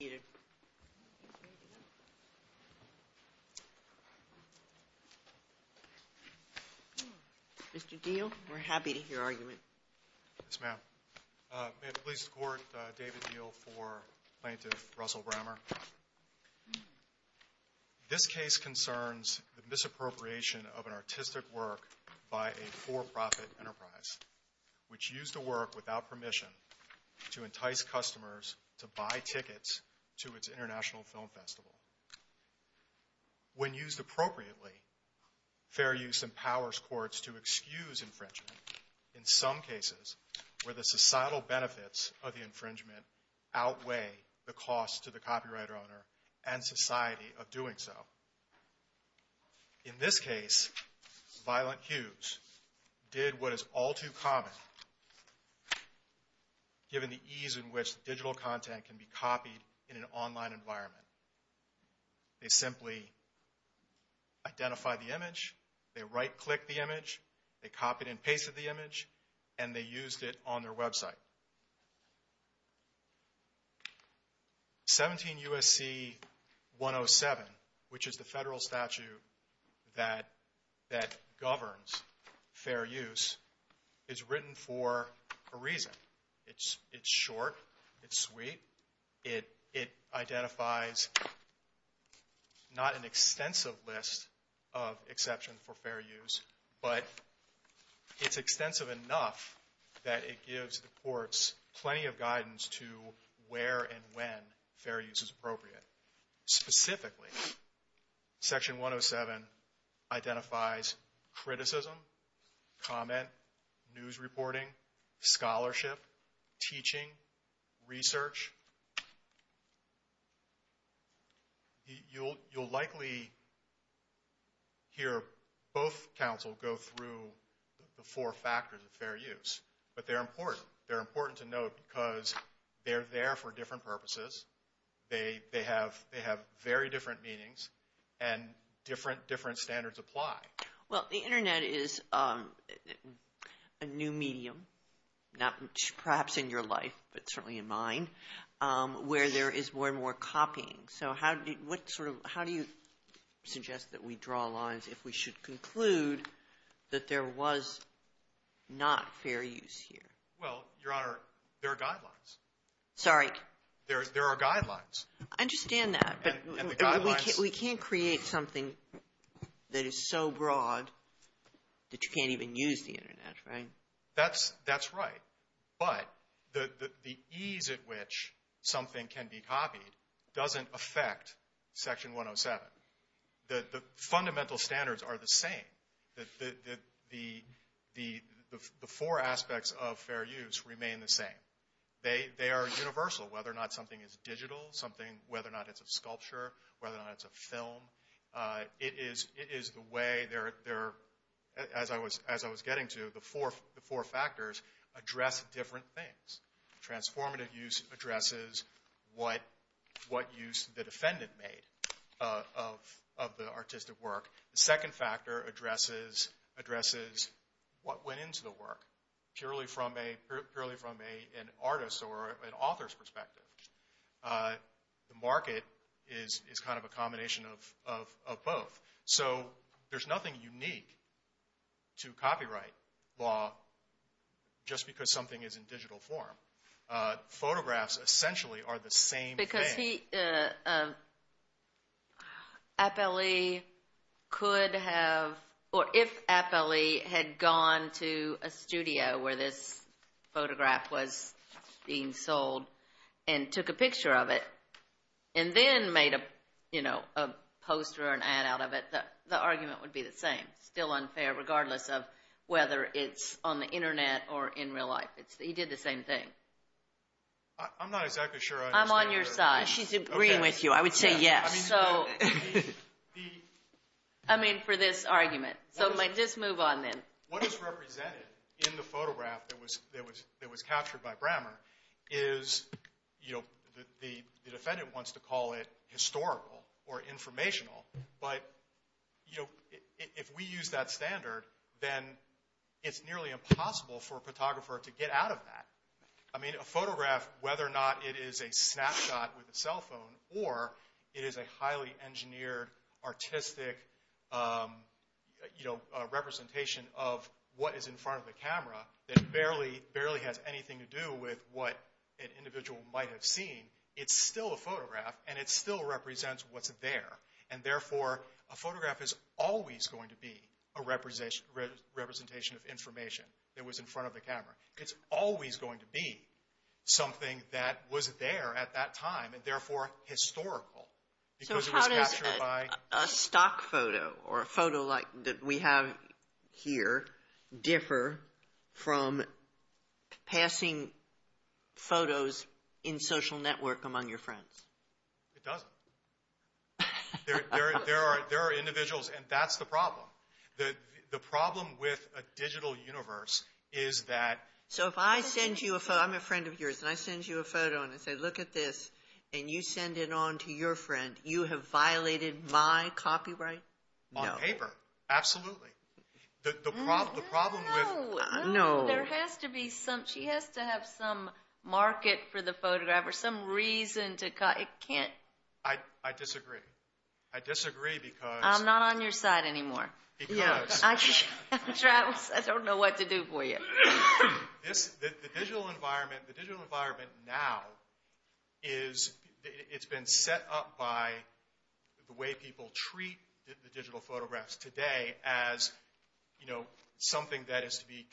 Mr. Diehl, we're happy to hear your argument. Yes, ma'am. May it please the Court, David Diehl for Plaintiff Russell Brammer. This case concerns the misappropriation of an artistic work by a for-profit enterprise, which used the work without permission to entice customers to buy tickets to its international film festival. When used appropriately, fair use empowers courts to excuse infringement in some cases where the societal benefits of the infringement outweigh the cost to the copyright owner and society of doing so. In this case, Violent Hues did what is all too common, given the ease in which digital content can be copied in an online environment. They simply identified the image, they right-clicked the image, they copied and pasted the image, and they used it on their website. 17 U.S.C. 107, which is the federal statute that governs fair use, is written for a reason. It's short, it's sweet, it identifies not an extensive list of exceptions for fair use, but it's extensive enough that it gives the courts plenty of guidance to where and when fair use is appropriate. Specifically, Section 107 identifies criticism, comment, news reporting, scholarship, teaching, research. You'll likely hear both counsel go through the four factors of fair use, but they're important. They're important to note because they're there for different purposes. They have very different meanings, and different standards apply. Well, the Internet is a new medium, perhaps in your life, but certainly in mine, where there is more and more copying. So how do you suggest that we draw lines if we should conclude that there was not fair use here? Well, Your Honor, there are guidelines. Sorry? There are guidelines. I understand that, but we can't create something that is so broad that you can't even use the Internet, right? That's right, but the ease at which something can be copied doesn't affect Section 107. The fundamental standards are the same. The four aspects of fair use remain the same. They are universal, whether or not something is digital, whether or not it's a sculpture, whether or not it's a film. It is the way, as I was getting to, the four factors address different things. Transformative use addresses what use the defendant made of the artistic work. The second factor addresses what went into the work, purely from an artist's or an author's perspective. The market is kind of a combination of both. So there's nothing unique to copyright law just because something is in digital form. Photographs essentially are the same thing. If Appellee could have, or if Appellee had gone to a studio where this photograph was being sold and took a picture of it and then made a poster or an ad out of it, the argument would be the same. Still unfair, regardless of whether it's on the Internet or in real life. He did the same thing. I'm not exactly sure. I'm on your side. She's agreeing with you. I would say yes. I mean for this argument. So just move on then. What is represented in the photograph that was captured by Brammer is, you know, the defendant wants to call it historical or informational, but, you know, if we use that standard, then it's nearly impossible for a photographer to get out of that. I mean a photograph, whether or not it is a snapshot with a cell phone, or it is a highly engineered, artistic, you know, representation of what is in front of the camera that barely has anything to do with what an individual might have seen, it's still a photograph and it still represents what's there. And, therefore, a photograph is always going to be a representation of information that was in front of the camera. It's always going to be something that was there at that time and, therefore, historical. So how does a stock photo or a photo like that we have here differ from passing photos in social network among your friends? It doesn't. There are individuals, and that's the problem. The problem with a digital universe is that... So if I send you a photo, I'm a friend of yours, and I send you a photo and I say, look at this, and you send it on to your friend, you have violated my copyright? On paper, absolutely. The problem with... No. There has to be some, she has to have some market for the photograph or some reason to, it can't... I disagree. I disagree because... I'm not on your side anymore. Because... I don't know what to do for you. The digital environment now is, it's been set up by the way people treat the digital photographs today as something that is to be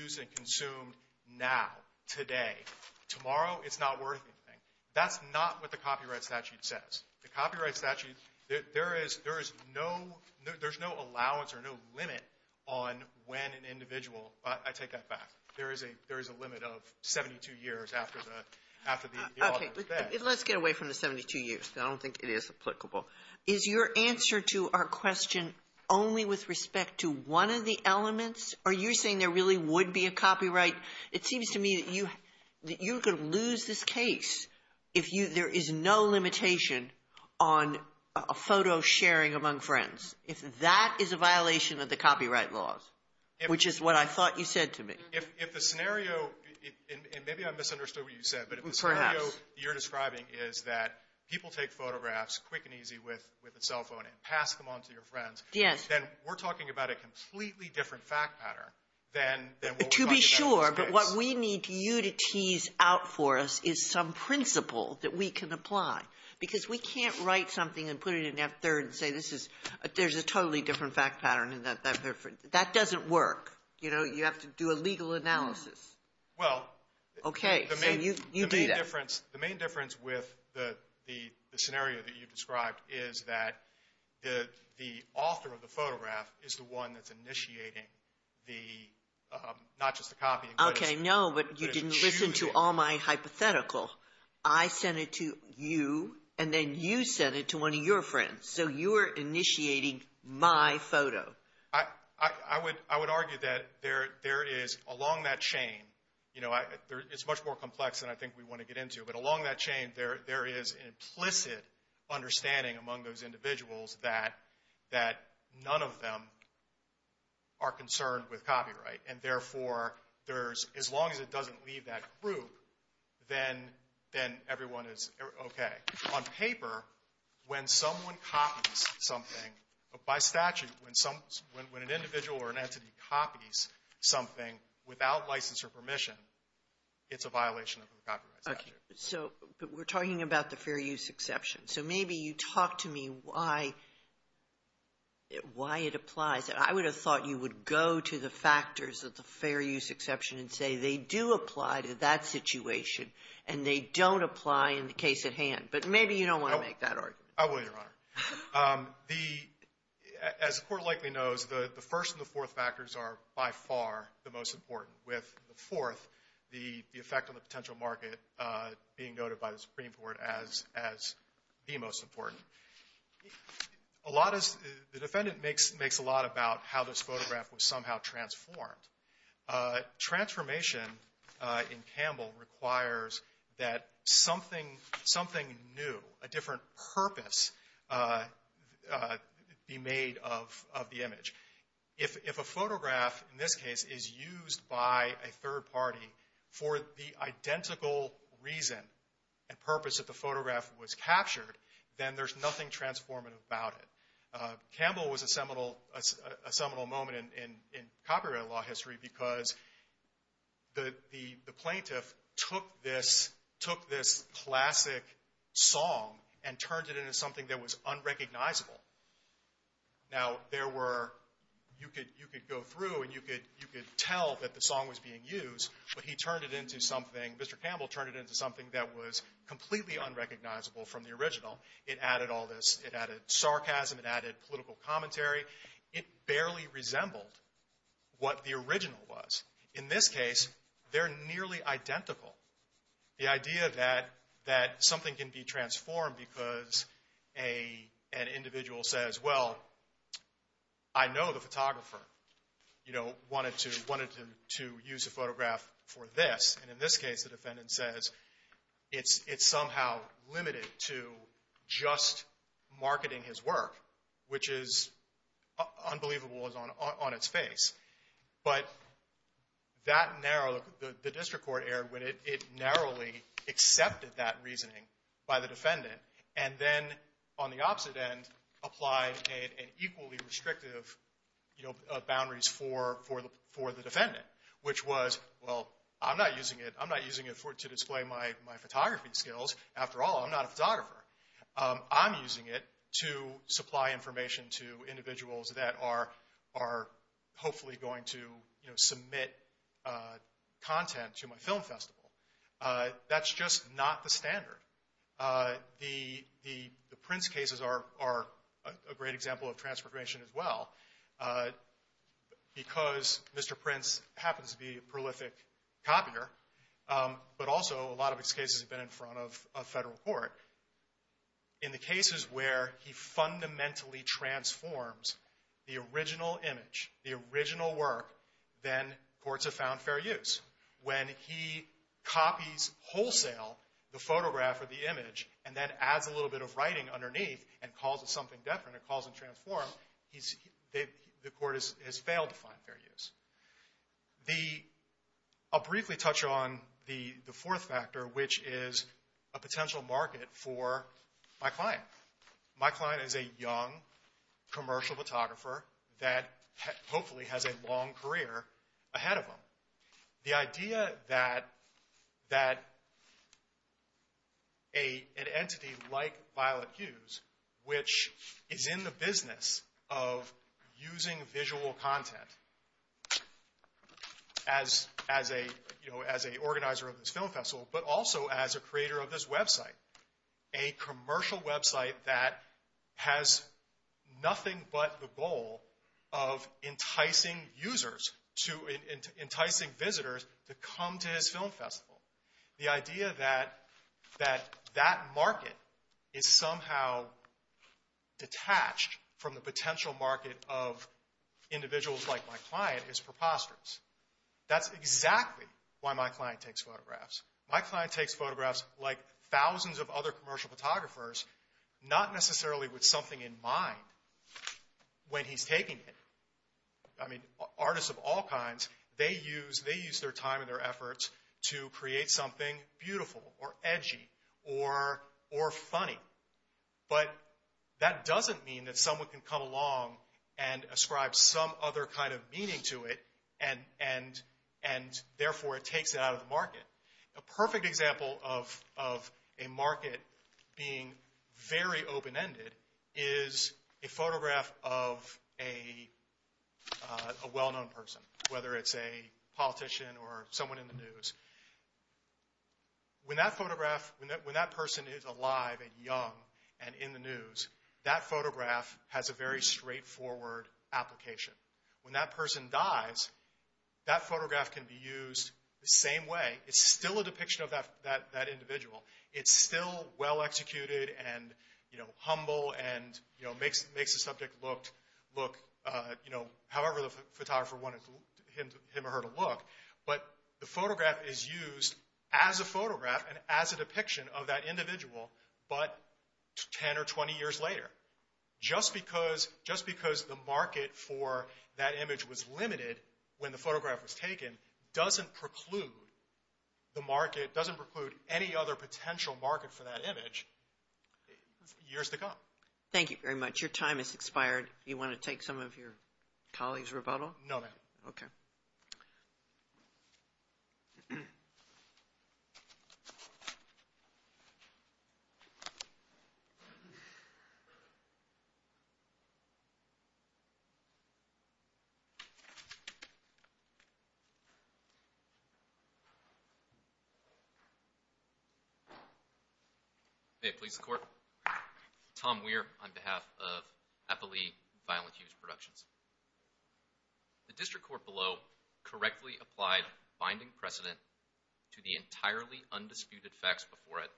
used and consumed now, today. Tomorrow, it's not worth anything. That's not what the copyright statute says. The copyright statute, there is no allowance or no limit on when an individual... I take that back. There is a limit of 72 years after the author is dead. Okay. Let's get away from the 72 years. I don't think it is applicable. Is your answer to our question only with respect to one of the elements? Are you saying there really would be a copyright? It seems to me that you could lose this case if there is no limitation on a photo sharing among friends, if that is a violation of the copyright laws, which is what I thought you said to me. If the scenario, and maybe I misunderstood what you said... Perhaps. But if the scenario you're describing is that people take photographs quick and easy with a cell phone and pass them on to your friends... Yes. ...then we're talking about a completely different fact pattern than what we're talking about in this case. To be sure, but what we need you to tease out for us is some principle that we can apply because we can't write something and put it in F-3rd and say there's a totally different fact pattern. That doesn't work. You have to do a legal analysis. Well... Okay, so you do that. The main difference with the scenario that you've described is that the author of the photograph is the one that's initiating the, not just the copy... Okay, no, but you didn't listen to all my hypothetical. I sent it to you, and then you sent it to one of your friends. So you are initiating my photo. I would argue that there is, along that chain, it's much more complex than I think we want to get into, but along that chain there is an implicit understanding among those individuals that none of them are concerned with copyright. And therefore, as long as it doesn't leave that group, then everyone is okay. On paper, when someone copies something, by statute, when an individual or an entity copies something without license or permission, it's a violation of the copyright statute. Okay. So we're talking about the fair use exception. So maybe you talk to me why it applies. I would have thought you would go to the factors of the fair use exception and say they do apply to that situation and they don't apply in the case at hand. But maybe you don't want to make that argument. I will, Your Honor. As the Court likely knows, the first and the fourth factors are by far the most important, with the fourth, the effect on the potential market, being noted by the Supreme Court as the most important. The defendant makes a lot about how this photograph was somehow transformed. Transformation in Campbell requires that something new, a different purpose, be made of the image. If a photograph, in this case, is used by a third party for the identical reason and purpose that the photograph was captured, then there's nothing transformative about it. Campbell was a seminal moment in copyright law history because the plaintiff took this classic song and turned it into something that was unrecognizable. Now, you could go through and you could tell that the song was being used, but Mr. Campbell turned it into something that was completely unrecognizable from the original. It added all this, it added sarcasm, it added political commentary. It barely resembled what the original was. In this case, they're nearly identical. The idea that something can be transformed because an individual says, well, I know the photographer, you know, wanted to use a photograph for this. And in this case, the defendant says it's somehow limited to just marketing his work, which is unbelievable on its face. But that narrow, the district court error, it narrowly accepted that reasoning by the defendant and then, on the opposite end, applied an equally restrictive, you know, boundaries for the defendant, which was, well, I'm not using it. I'm not using it to display my photography skills. After all, I'm not a photographer. I'm using it to supply information to individuals that are hopefully going to, you know, submit content to my film festival. That's just not the standard. The Prince cases are a great example of transformation as well. Because Mr. Prince happens to be a prolific copier, but also a lot of his cases have been in front of federal court, in the cases where he fundamentally transforms the original image, the original work, then courts have found fair use. When he copies wholesale the photograph or the image and then adds a little bit of writing underneath and calls it something different, or calls it transform, the court has failed to find fair use. I'll briefly touch on the fourth factor, which is a potential market for my client. My client is a young commercial photographer that hopefully has a long career ahead of him. The idea that an entity like Violet Hughes, which is in the business of using visual content as an organizer of this film festival, but also as a creator of this website, a commercial website that has nothing but the goal of enticing users, enticing visitors to come to his film festival, the idea that that market is somehow detached from the potential market of individuals like my client is preposterous. That's exactly why my client takes photographs. My client takes photographs like thousands of other commercial photographers, not necessarily with something in mind when he's taking it. Artists of all kinds, they use their time and their efforts to create something beautiful or edgy or funny. But that doesn't mean that someone can come along and ascribe some other kind of meaning to it, and therefore it takes it out of the market. A perfect example of a market being very open-ended is a photograph of a well-known person, whether it's a politician or someone in the news. When that person is alive and young and in the news, that photograph has a very straightforward application. When that person dies, that photograph can be used the same way. It's still a depiction of that individual. It's still well-executed and humble and makes the subject look however the photographer wanted him or her to look. But the photograph is used as a photograph and as a depiction of that individual, but 10 or 20 years later. Just because the market for that image was limited when the photograph was taken, doesn't preclude any other potential market for that image years to come. Thank you very much. Your time has expired. Do you want to take some of your colleagues' rebuttal? No, ma'am. Okay. Tom Weir. Hey, police court. Tom Weir on behalf of Appalee Violent Use Productions. The district court below correctly applied binding precedent to the entirely undisputed facts before it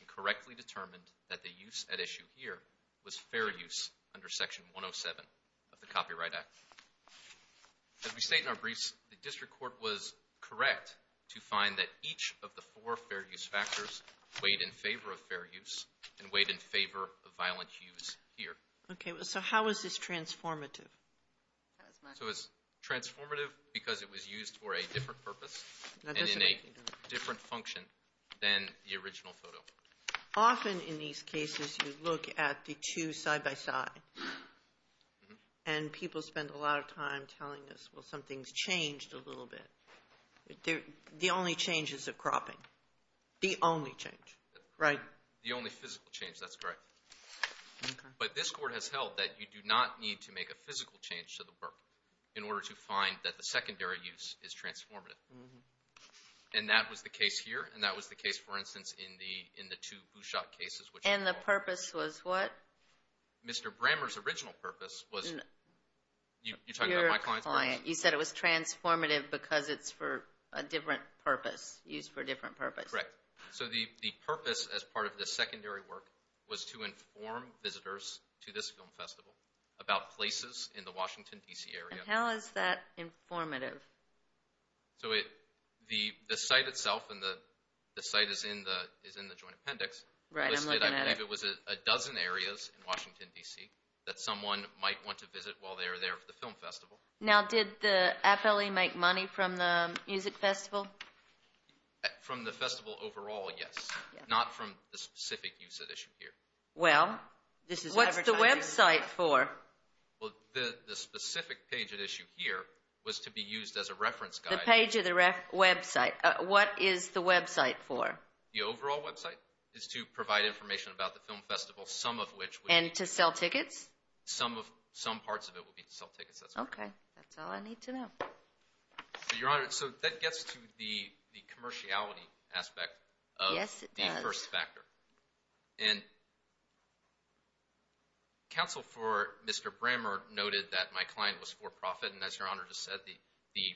and correctly determined that the use at issue here was fair use under Section 107 of the Copyright Act. As we state in our briefs, the district court was correct to find that each of the four fair use factors weighed in favor of fair use and weighed in favor of violent use here. Okay. So how is this transformative? So it's transformative because it was used for a different purpose and in a different function than the original photo. Often in these cases you look at the two side by side and people spend a lot of time telling us, well, something's changed a little bit. The only change is the cropping. The only change, right? The only physical change, that's correct. Okay. But this court has held that you do not need to make a physical change to the work in order to find that the secondary use is transformative. And that was the case here and that was the case, for instance, in the two who shot cases. And the purpose was what? Mr. Brammer's original purpose was, you're talking about my client's purpose? Your client. You said it was transformative because it's for a different purpose, used for a different purpose. Correct. So the purpose as part of the secondary work was to inform visitors to this film festival about places in the Washington, D.C. area. And how is that informative? So the site itself and the site is in the joint appendix. Right. I'm looking at it. I believe it was a dozen areas in Washington, D.C. that someone might want to visit while they're there for the film festival. Now did the FLE make money from the music festival? From the festival overall, yes. Not from the specific use at issue here. Well, what's the website for? Well, the specific page at issue here was to be used as a reference guide. The page of the website. What is the website for? The overall website is to provide information about the film festival, some of which... And to sell tickets? Some parts of it would be to sell tickets. That's correct. Okay. That's all I need to know. Your Honor, so that gets to the commerciality aspect of the first factor. Yes, it does. And counsel for Mr. Brammer noted that my client was for profit. And as Your Honor just said, the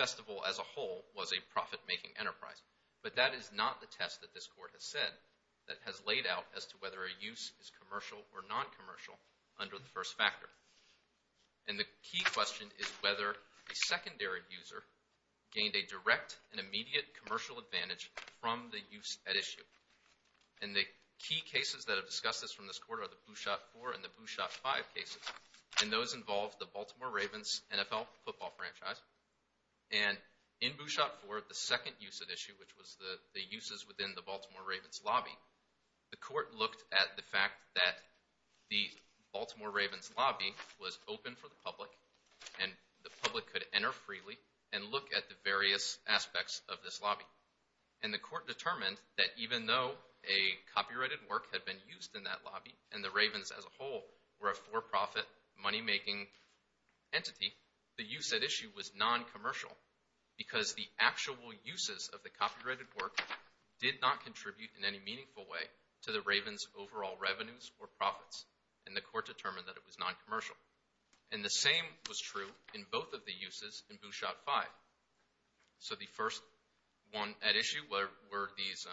festival as a whole was a profit-making enterprise. But that is not the test that this Court has said that has laid out as to whether a use is commercial or non-commercial under the first factor. And the key question is whether a secondary user gained a direct and immediate commercial advantage from the use at issue. And the key cases that have discussed this from this Court are the Bouchot 4 and the Bouchot 5 cases. And those involve the Baltimore Ravens NFL football franchise. And in Bouchot 4, the second use at issue, which was the uses within the Baltimore Ravens lobby, the Court looked at the fact that the Baltimore Ravens lobby was open for the public, and the public could enter freely and look at the various aspects of this lobby. And the Court determined that even though a copyrighted work had been used in that lobby, and the Ravens as a whole were a for-profit, money-making entity, the use at issue was non-commercial because the actual uses of the copyrighted work did not contribute in any meaningful way to the Ravens' overall revenues or profits. And the Court determined that it was non-commercial. And the same was true in both of the uses in Bouchot 5. So the first one at issue were these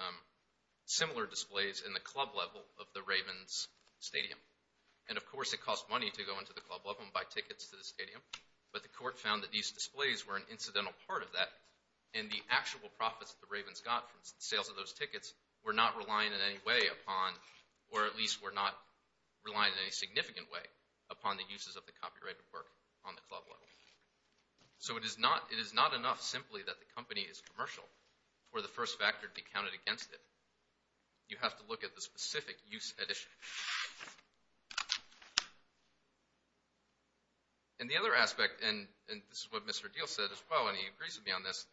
similar displays in the club level of the Ravens stadium. And of course it cost money to go into the club level and buy tickets to the stadium, but the Court found that these displays were an incidental part of that, and the actual profits that the Ravens got from sales of those tickets were not relying in any way upon, or at least were not relying in any significant way upon the uses of the copyrighted work on the club level. So it is not enough simply that the company is commercial for the first factor to be counted against it. You have to look at the specific use at issue. And the other aspect, and this is what Mr. Diehl said as well, and he agrees with me on this,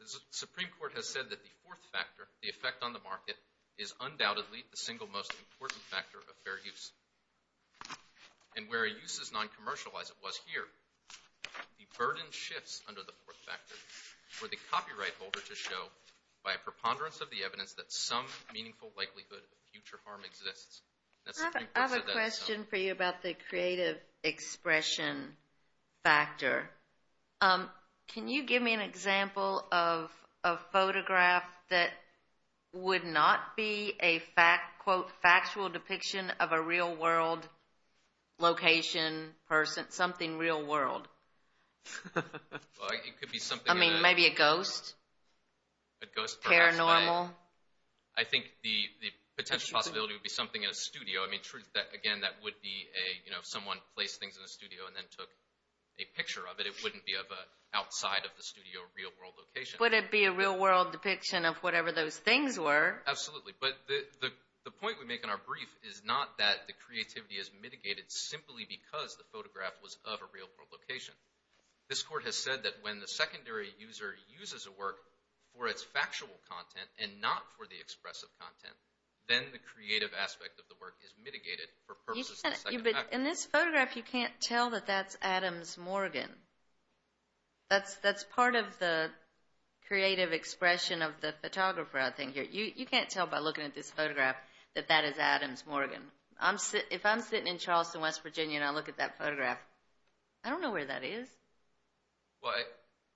the Supreme Court has said that the fourth factor, the effect on the market, is undoubtedly the single most important factor of fair use. And where a use is non-commercial, as it was here, the burden shifts under the fourth factor for the copyright holder to show, by a preponderance of the evidence, that some meaningful likelihood of future harm exists. I have a question for you about the creative expression factor. Can you give me an example of a photograph that would not be a, quote, factual depiction of a real world location, person, something real world? I mean, maybe a ghost? Paranormal? I think the potential possibility would be something in a studio. Again, that would be someone placed things in a studio and then took a picture of it. It wouldn't be outside of the studio real world location. Would it be a real world depiction of whatever those things were? Absolutely. But the point we make in our brief is not that the creativity is mitigated simply because the photograph was of a real world location. This court has said that when the secondary user uses a work for its factual content and not for the expressive content, then the creative aspect of the work is mitigated for purposes of the secondary user. In this photograph, you can't tell that that's Adams Morgan. That's part of the creative expression of the photographer, I think. You can't tell by looking at this photograph that that is Adams Morgan. If I'm sitting in Charleston, West Virginia, and I look at that photograph, I don't know where that is.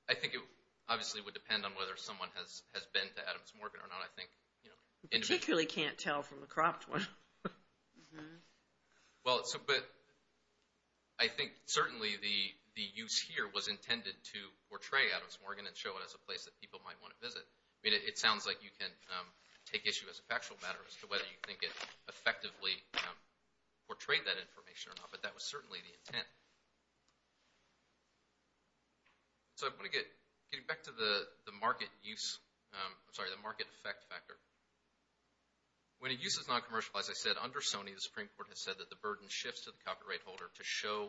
I think it obviously would depend on whether someone has been to Adams Morgan or not. You particularly can't tell from the cropped one. But I think certainly the use here was intended to portray Adams Morgan and show it as a place that people might want to visit. It sounds like you can take issue as a factual matter as to whether you think it effectively portrayed that information or not, but that was certainly the intent. So I want to get back to the market effect factor. When a use is noncommercial, as I said, under Sony, the Supreme Court has said that the burden shifts to the copyright holder to show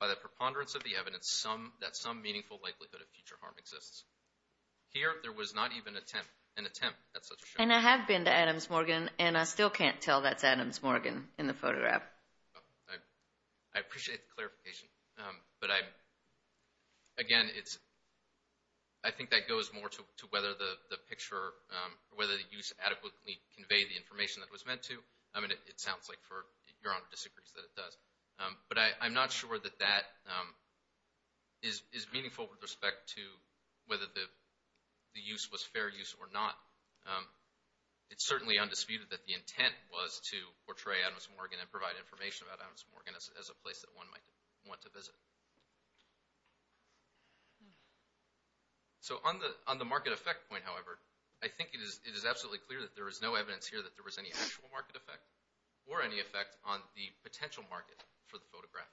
by the preponderance of the evidence that some meaningful likelihood of future harm exists. Here, there was not even an attempt at such a show. And I have been to Adams Morgan, and I still can't tell that's Adams Morgan in the photograph. I appreciate the clarification. But again, I think that goes more to whether the picture, whether the use adequately conveyed the information that it was meant to. I mean, it sounds like for your Honor's disagreement that it does. But I'm not sure that that is meaningful with respect to whether the use was fair use or not. It's certainly undisputed that the intent was to portray Adams Morgan and provide information about Adams Morgan as a place that one might want to visit. So on the market effect point, however, I think it is absolutely clear that there is no evidence here that there was any actual market effect or any effect on the potential market for the photograph.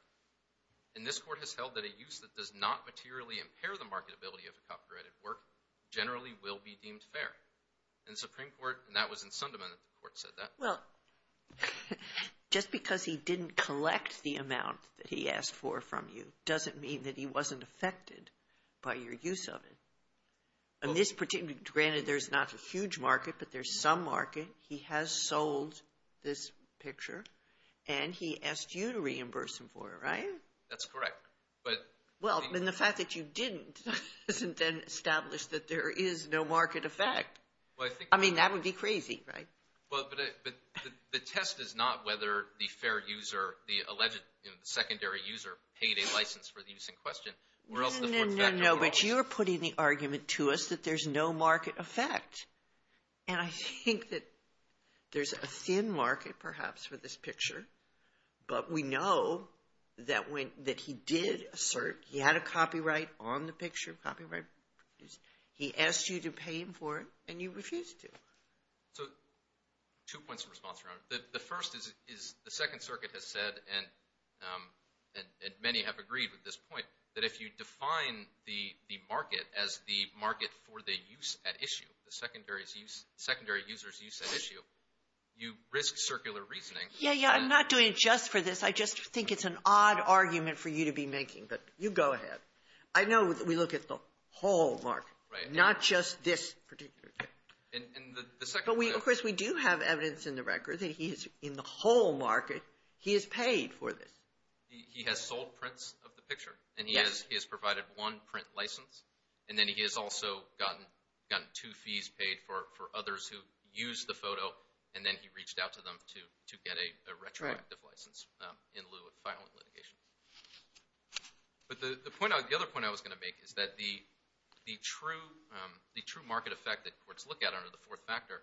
And this Court has held that a use that does not materially impair the marketability of a copyrighted work generally will be deemed fair. And the Supreme Court, and that was in Sunderman that the Court said that. Well, just because he didn't collect the amount that he asked for from you doesn't mean that he wasn't affected by your use of it. Granted, there's not a huge market, but there's some market. He has sold this picture, and he asked you to reimburse him for it, right? That's correct. Well, then the fact that you didn't doesn't then establish that there is no market effect. I mean, that would be crazy, right? But the test is not whether the fair user, the alleged secondary user, paid a license for the use in question. No, but you're putting the argument to us that there's no market effect. And I think that there's a thin market perhaps for this picture, but we know that he did assert he had a copyright on the picture, copyright. He asked you to pay him for it, and you refused to. So two points of response, Your Honor. The first is the Second Circuit has said, and many have agreed with this point, that if you define the market as the market for the use at issue, the secondary user's use at issue, you risk circular reasoning. Yeah, yeah, I'm not doing it just for this. I just think it's an odd argument for you to be making, but you go ahead. I know that we look at the whole market, not just this particular thing. But, of course, we do have evidence in the record that he is in the whole market. He has paid for this. He has sold prints of the picture, and he has provided one print license, and then he has also gotten two fees paid for others who used the photo, and then he reached out to them to get a retroactive license in lieu of filing litigation. But the other point I was going to make is that the true market effect that courts look at under the fourth factor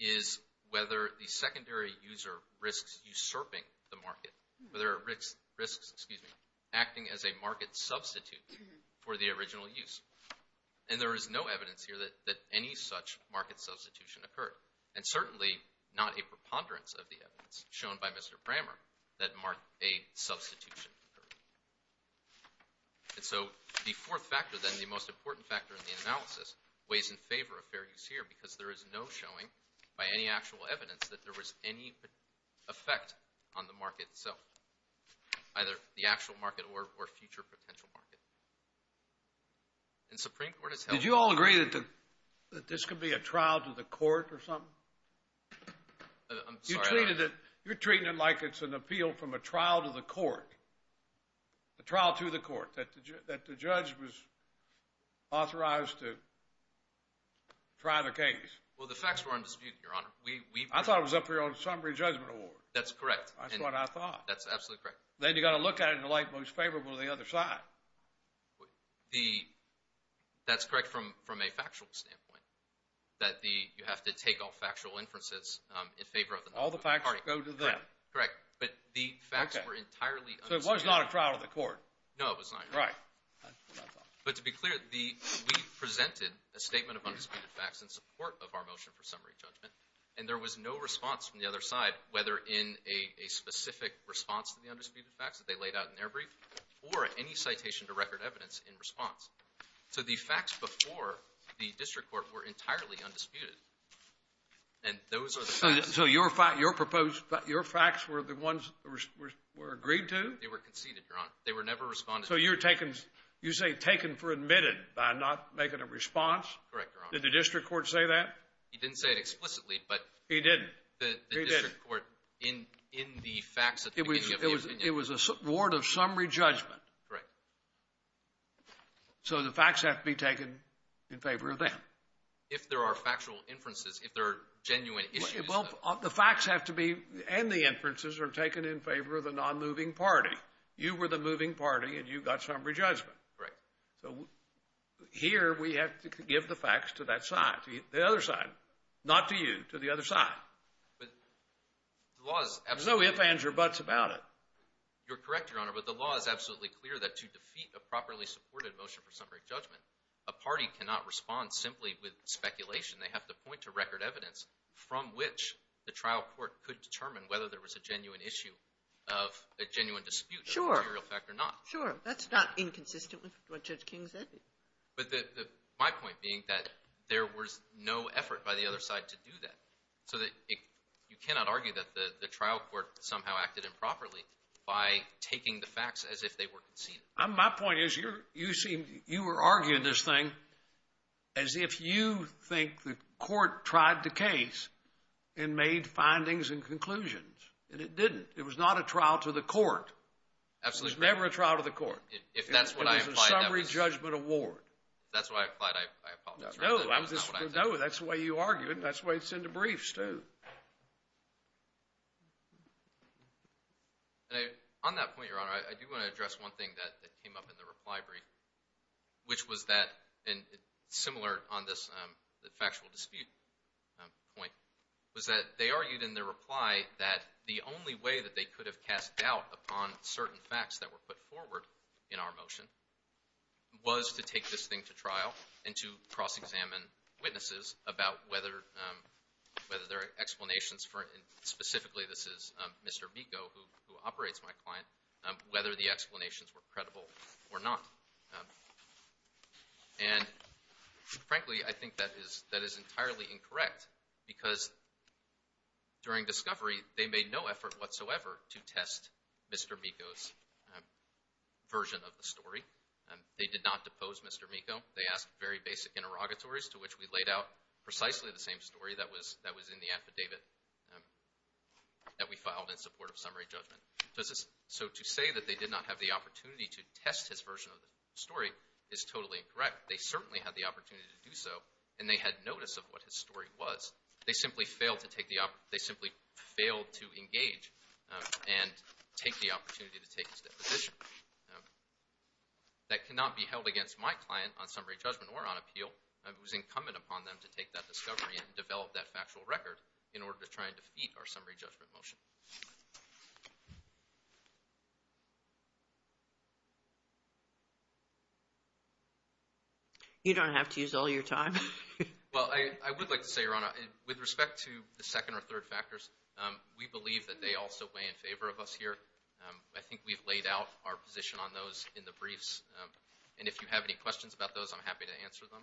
is whether the secondary user risks usurping the market, whether there are risks acting as a market substitute for the original use. And there is no evidence here that any such market substitution occurred, and certainly not a preponderance of the evidence shown by Mr. Brammer that a substitution occurred. And so the fourth factor, then, the most important factor in the analysis, weighs in favor of fair use here because there is no showing by any actual evidence that there was any effect on the market itself, either the actual market or future potential market. In Supreme Court, it's held. Did you all agree that this could be a trial to the court or something? I'm sorry. You're treating it like it's an appeal from a trial to the court, a trial to the court, that the judge was authorized to try the case. Well, the facts were undisputed, Your Honor. I thought it was up here on summary judgment award. That's correct. That's what I thought. That's absolutely correct. Then you've got to look at it in the light most favorable to the other side. That's correct from a factual standpoint, that you have to take all factual inferences in favor of the party. All the facts go to them. Correct. But the facts were entirely undisputed. So it was not a trial to the court. No, it was not. Right. But to be clear, we presented a statement of undisputed facts in support of our motion for summary judgment, and there was no response from the other side, whether in a specific response to the undisputed facts that they laid out in their brief or any citation to record evidence in response. So the facts before the district court were entirely undisputed, and those are the facts. So your facts were the ones that were agreed to? They were conceded, Your Honor. They were never responded to. So you say taken for admitted by not making a response? Correct, Your Honor. Did the district court say that? He didn't say it explicitly, but the district court, in the facts that they gave you. It was a reward of summary judgment. Correct. So the facts have to be taken in favor of them. If there are factual inferences, if there are genuine issues. Well, the facts have to be, and the inferences are taken in favor of the non-moving party. You were the moving party, and you got summary judgment. Correct. So here we have to give the facts to that side, the other side, not to you, to the other side. But the law is absolutely clear. There's no ifs, ands, or buts about it. You're correct, Your Honor, but the law is absolutely clear that to defeat a properly supported motion for summary judgment, a party cannot respond simply with speculation. They have to point to record evidence from which the trial court could determine whether there was a genuine issue of a genuine dispute of a material fact or not. Sure. That's not inconsistent with what Judge King said. But my point being that there was no effort by the other side to do that. So you cannot argue that the trial court somehow acted improperly by taking the facts as if they were conceded. My point is you were arguing this thing as if you think the court tried the case and made findings and conclusions, and it didn't. It was not a trial to the court. Absolutely. It was never a trial to the court. If that's what I implied. It was a summary judgment award. If that's what I implied, I apologize. No, that's the way you argued, and that's the way it's in the briefs, too. On that point, Your Honor, I do want to address one thing that came up in the reply brief, which was that, and similar on this factual dispute point, was that they argued in their reply that the only way that they could have cast doubt upon certain facts that were put forward in our motion was to take this thing to trial and to cross-examine witnesses about whether there are explanations for it. Frankly, I think that is entirely incorrect because during discovery, they made no effort whatsoever to test Mr. Miko's version of the story. They did not depose Mr. Miko. They asked very basic interrogatories to which we laid out precisely the same story that was in the affidavit that we filed in support of summary judgment. So to say that they did not have the opportunity to test his version of the story is totally incorrect. They certainly had the opportunity to do so, and they had notice of what his story was. They simply failed to engage and take the opportunity to take his deposition. That cannot be held against my client on summary judgment or on appeal. It was incumbent upon them to take that discovery and develop that factual record in order to try and defeat our summary judgment motion. You don't have to use all your time. Well, I would like to say, Your Honor, with respect to the second or third factors, we believe that they also weigh in favor of us here. I think we've laid out our position on those in the briefs. And if you have any questions about those, I'm happy to answer them.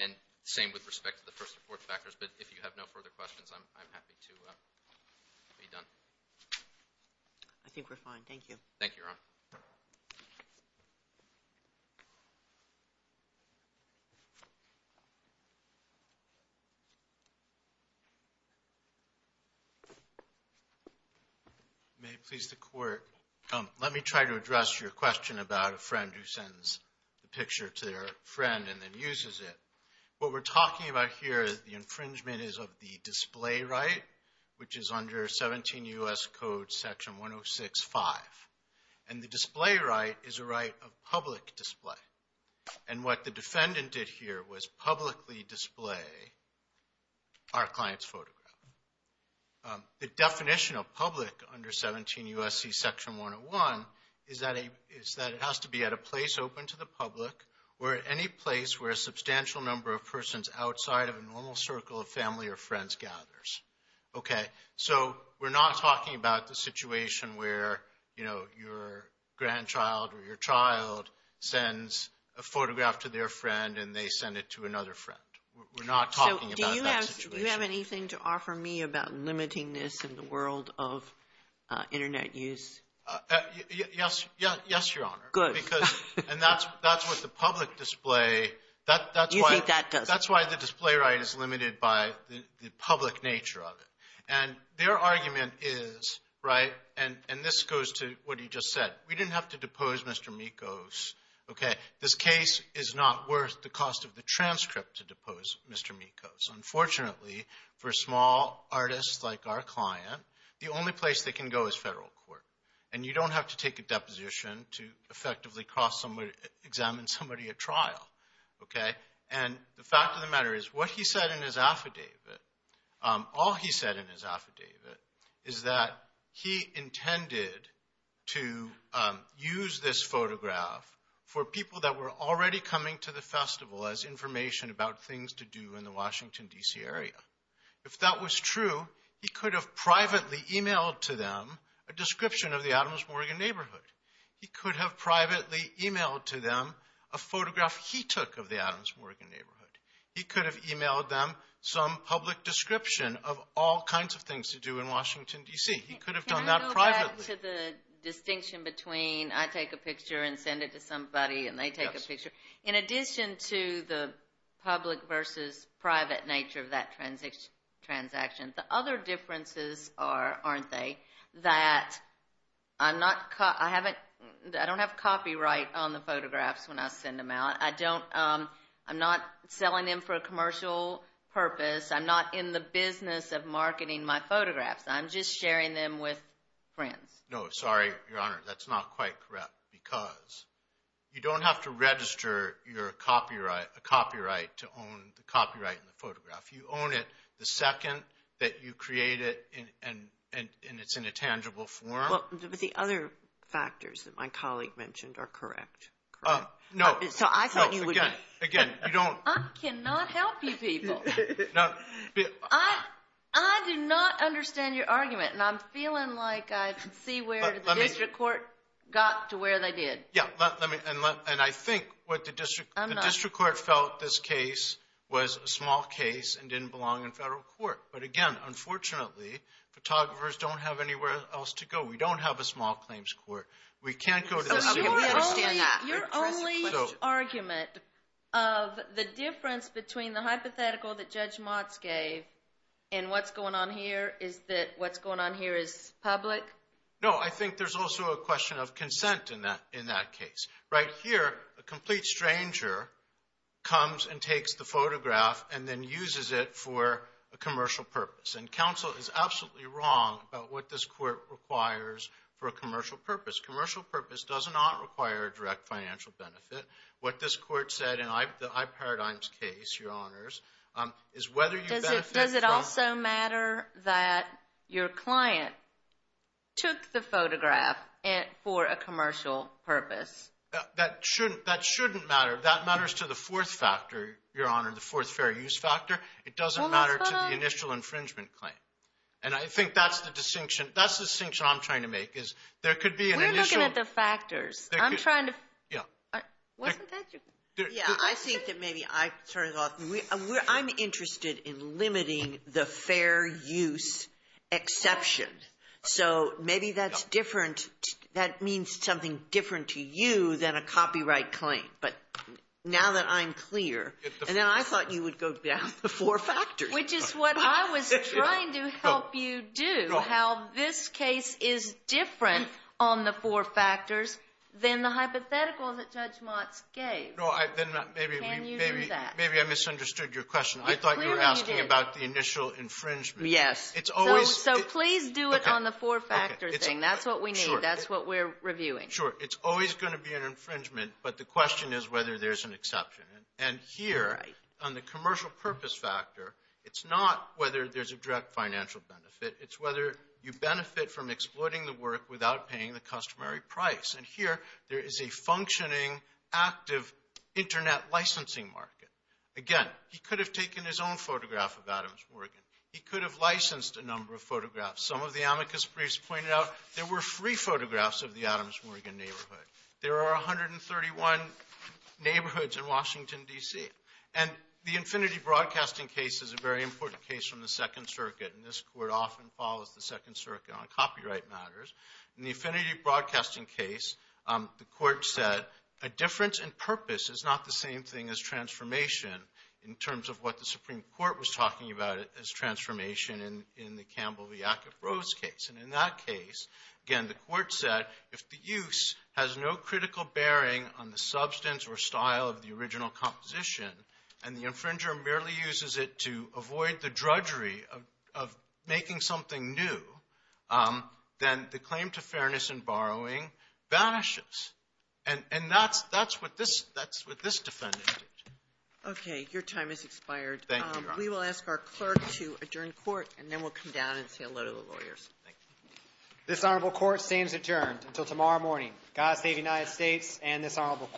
And same with respect to the first or fourth factors. But if you have no further questions, I'm happy to be done. I think we're fine. Thank you. May it please the Court. Let me try to address your question about a friend who sends the picture to their friend and then uses it. What we're talking about here is the infringement is of the display right, which is under 17 U.S. Code Section 106-5. And the display right is a right of public display. And what the defendant did here was publicly display our client's photograph. The definition of public under 17 U.S.C. Section 101 is that it has to be at a place open to the public or at any place where a substantial number of persons outside of a normal circle of family or friends gathers. Okay? So we're not talking about the situation where, you know, your grandchild or your child sends a photograph to their friend and they send it to another friend. We're not talking about that situation. Do you have anything to offer me about limiting this in the world of Internet use? Yes, Your Honor. Good. And that's what the public display, that's why the display right is limited by the public nature of it. And their argument is, right, and this goes to what he just said, we didn't have to depose Mr. Mikos. Okay? This case is not worth the cost of the transcript to depose Mr. Mikos. Unfortunately, for small artists like our client, the only place they can go is federal court, and you don't have to take a deposition to effectively examine somebody at trial. Okay? And the fact of the matter is what he said in his affidavit, all he said in his affidavit, is that he intended to use this photograph for people that were already coming to the festival as information about things to do in the Washington, D.C. area. If that was true, he could have privately emailed to them a description of the Adams Morgan neighborhood. He could have privately emailed to them a photograph he took of the Adams Morgan neighborhood. He could have emailed them some public description of all kinds of things to do in Washington, D.C. He could have done that privately. Can I go back to the distinction between I take a picture and send it to somebody and they take a picture? Yes. In addition to the public versus private nature of that transaction, the other differences are, aren't they, that I don't have copyright on the photographs when I send them out. I'm not selling them for a commercial purpose. I'm not in the business of marketing my photographs. I'm just sharing them with friends. No, sorry, Your Honor. That's not quite correct because you don't have to register your copyright to own the copyright in the photograph. You own it the second that you create it and it's in a tangible form. But the other factors that my colleague mentioned are correct, correct? No. So I thought you would. Again, you don't. I cannot help you people. I do not understand your argument, and I'm feeling like I can see where the district court got to where they did. Yeah, and I think what the district court felt this case was a small case and didn't belong in federal court. But, again, unfortunately, photographers don't have anywhere else to go. We don't have a small claims court. We understand that. Your only argument of the difference between the hypothetical that Judge Motz gave and what's going on here is that what's going on here is public? No, I think there's also a question of consent in that case. Right here, a complete stranger comes and takes the photograph and then uses it for a commercial purpose. And counsel is absolutely wrong about what this court requires for a commercial purpose. Commercial purpose does not require a direct financial benefit. What this court said in the iParadigm's case, Your Honors, is whether you benefit from— Does it also matter that your client took the photograph for a commercial purpose? That shouldn't matter. That matters to the fourth factor, Your Honor, the fourth fair use factor. It doesn't matter to the initial infringement claim. And I think that's the distinction. That's the distinction I'm trying to make is there could be an initial— We're looking at the factors. I'm trying to— Yeah. Wasn't that your— Yeah, I think that maybe I turned it off. I'm interested in limiting the fair use exception. So maybe that's different. That means something different to you than a copyright claim. But now that I'm clear— And then I thought you would go down the four factors. Which is what I was trying to help you do, how this case is different on the four factors than the hypothetical that Judge Motz gave. Can you do that? Maybe I misunderstood your question. I thought you were asking about the initial infringement. Yes. So please do it on the four-factor thing. That's what we need. That's what we're reviewing. Sure. So it's always going to be an infringement, but the question is whether there's an exception. And here, on the commercial purpose factor, it's not whether there's a direct financial benefit. It's whether you benefit from exploiting the work without paying the customary price. And here, there is a functioning, active internet licensing market. Again, he could have taken his own photograph of Adams Morgan. He could have licensed a number of photographs. Some of the amicus briefs pointed out there were free photographs of the Adams Morgan neighborhood. There are 131 neighborhoods in Washington, D.C. And the Infinity Broadcasting case is a very important case from the Second Circuit. And this Court often follows the Second Circuit on copyright matters. In the Infinity Broadcasting case, the Court said, a difference in purpose is not the same thing as transformation, in terms of what the Supreme Court was talking about as transformation in the Campbell v. Ackiff-Rhodes case. And in that case, again, the Court said, if the use has no critical bearing on the substance or style of the original composition, and the infringer merely uses it to avoid the drudgery of making something new, then the claim to fairness in borrowing vanishes. And that's what this defendant did. Okay. Your time has expired. Thank you, Your Honor. We will ask our clerk to adjourn court, and then we'll come down and say hello to the lawyers. Thank you. This honorable court stands adjourned until tomorrow morning. God save the United States and this honorable court.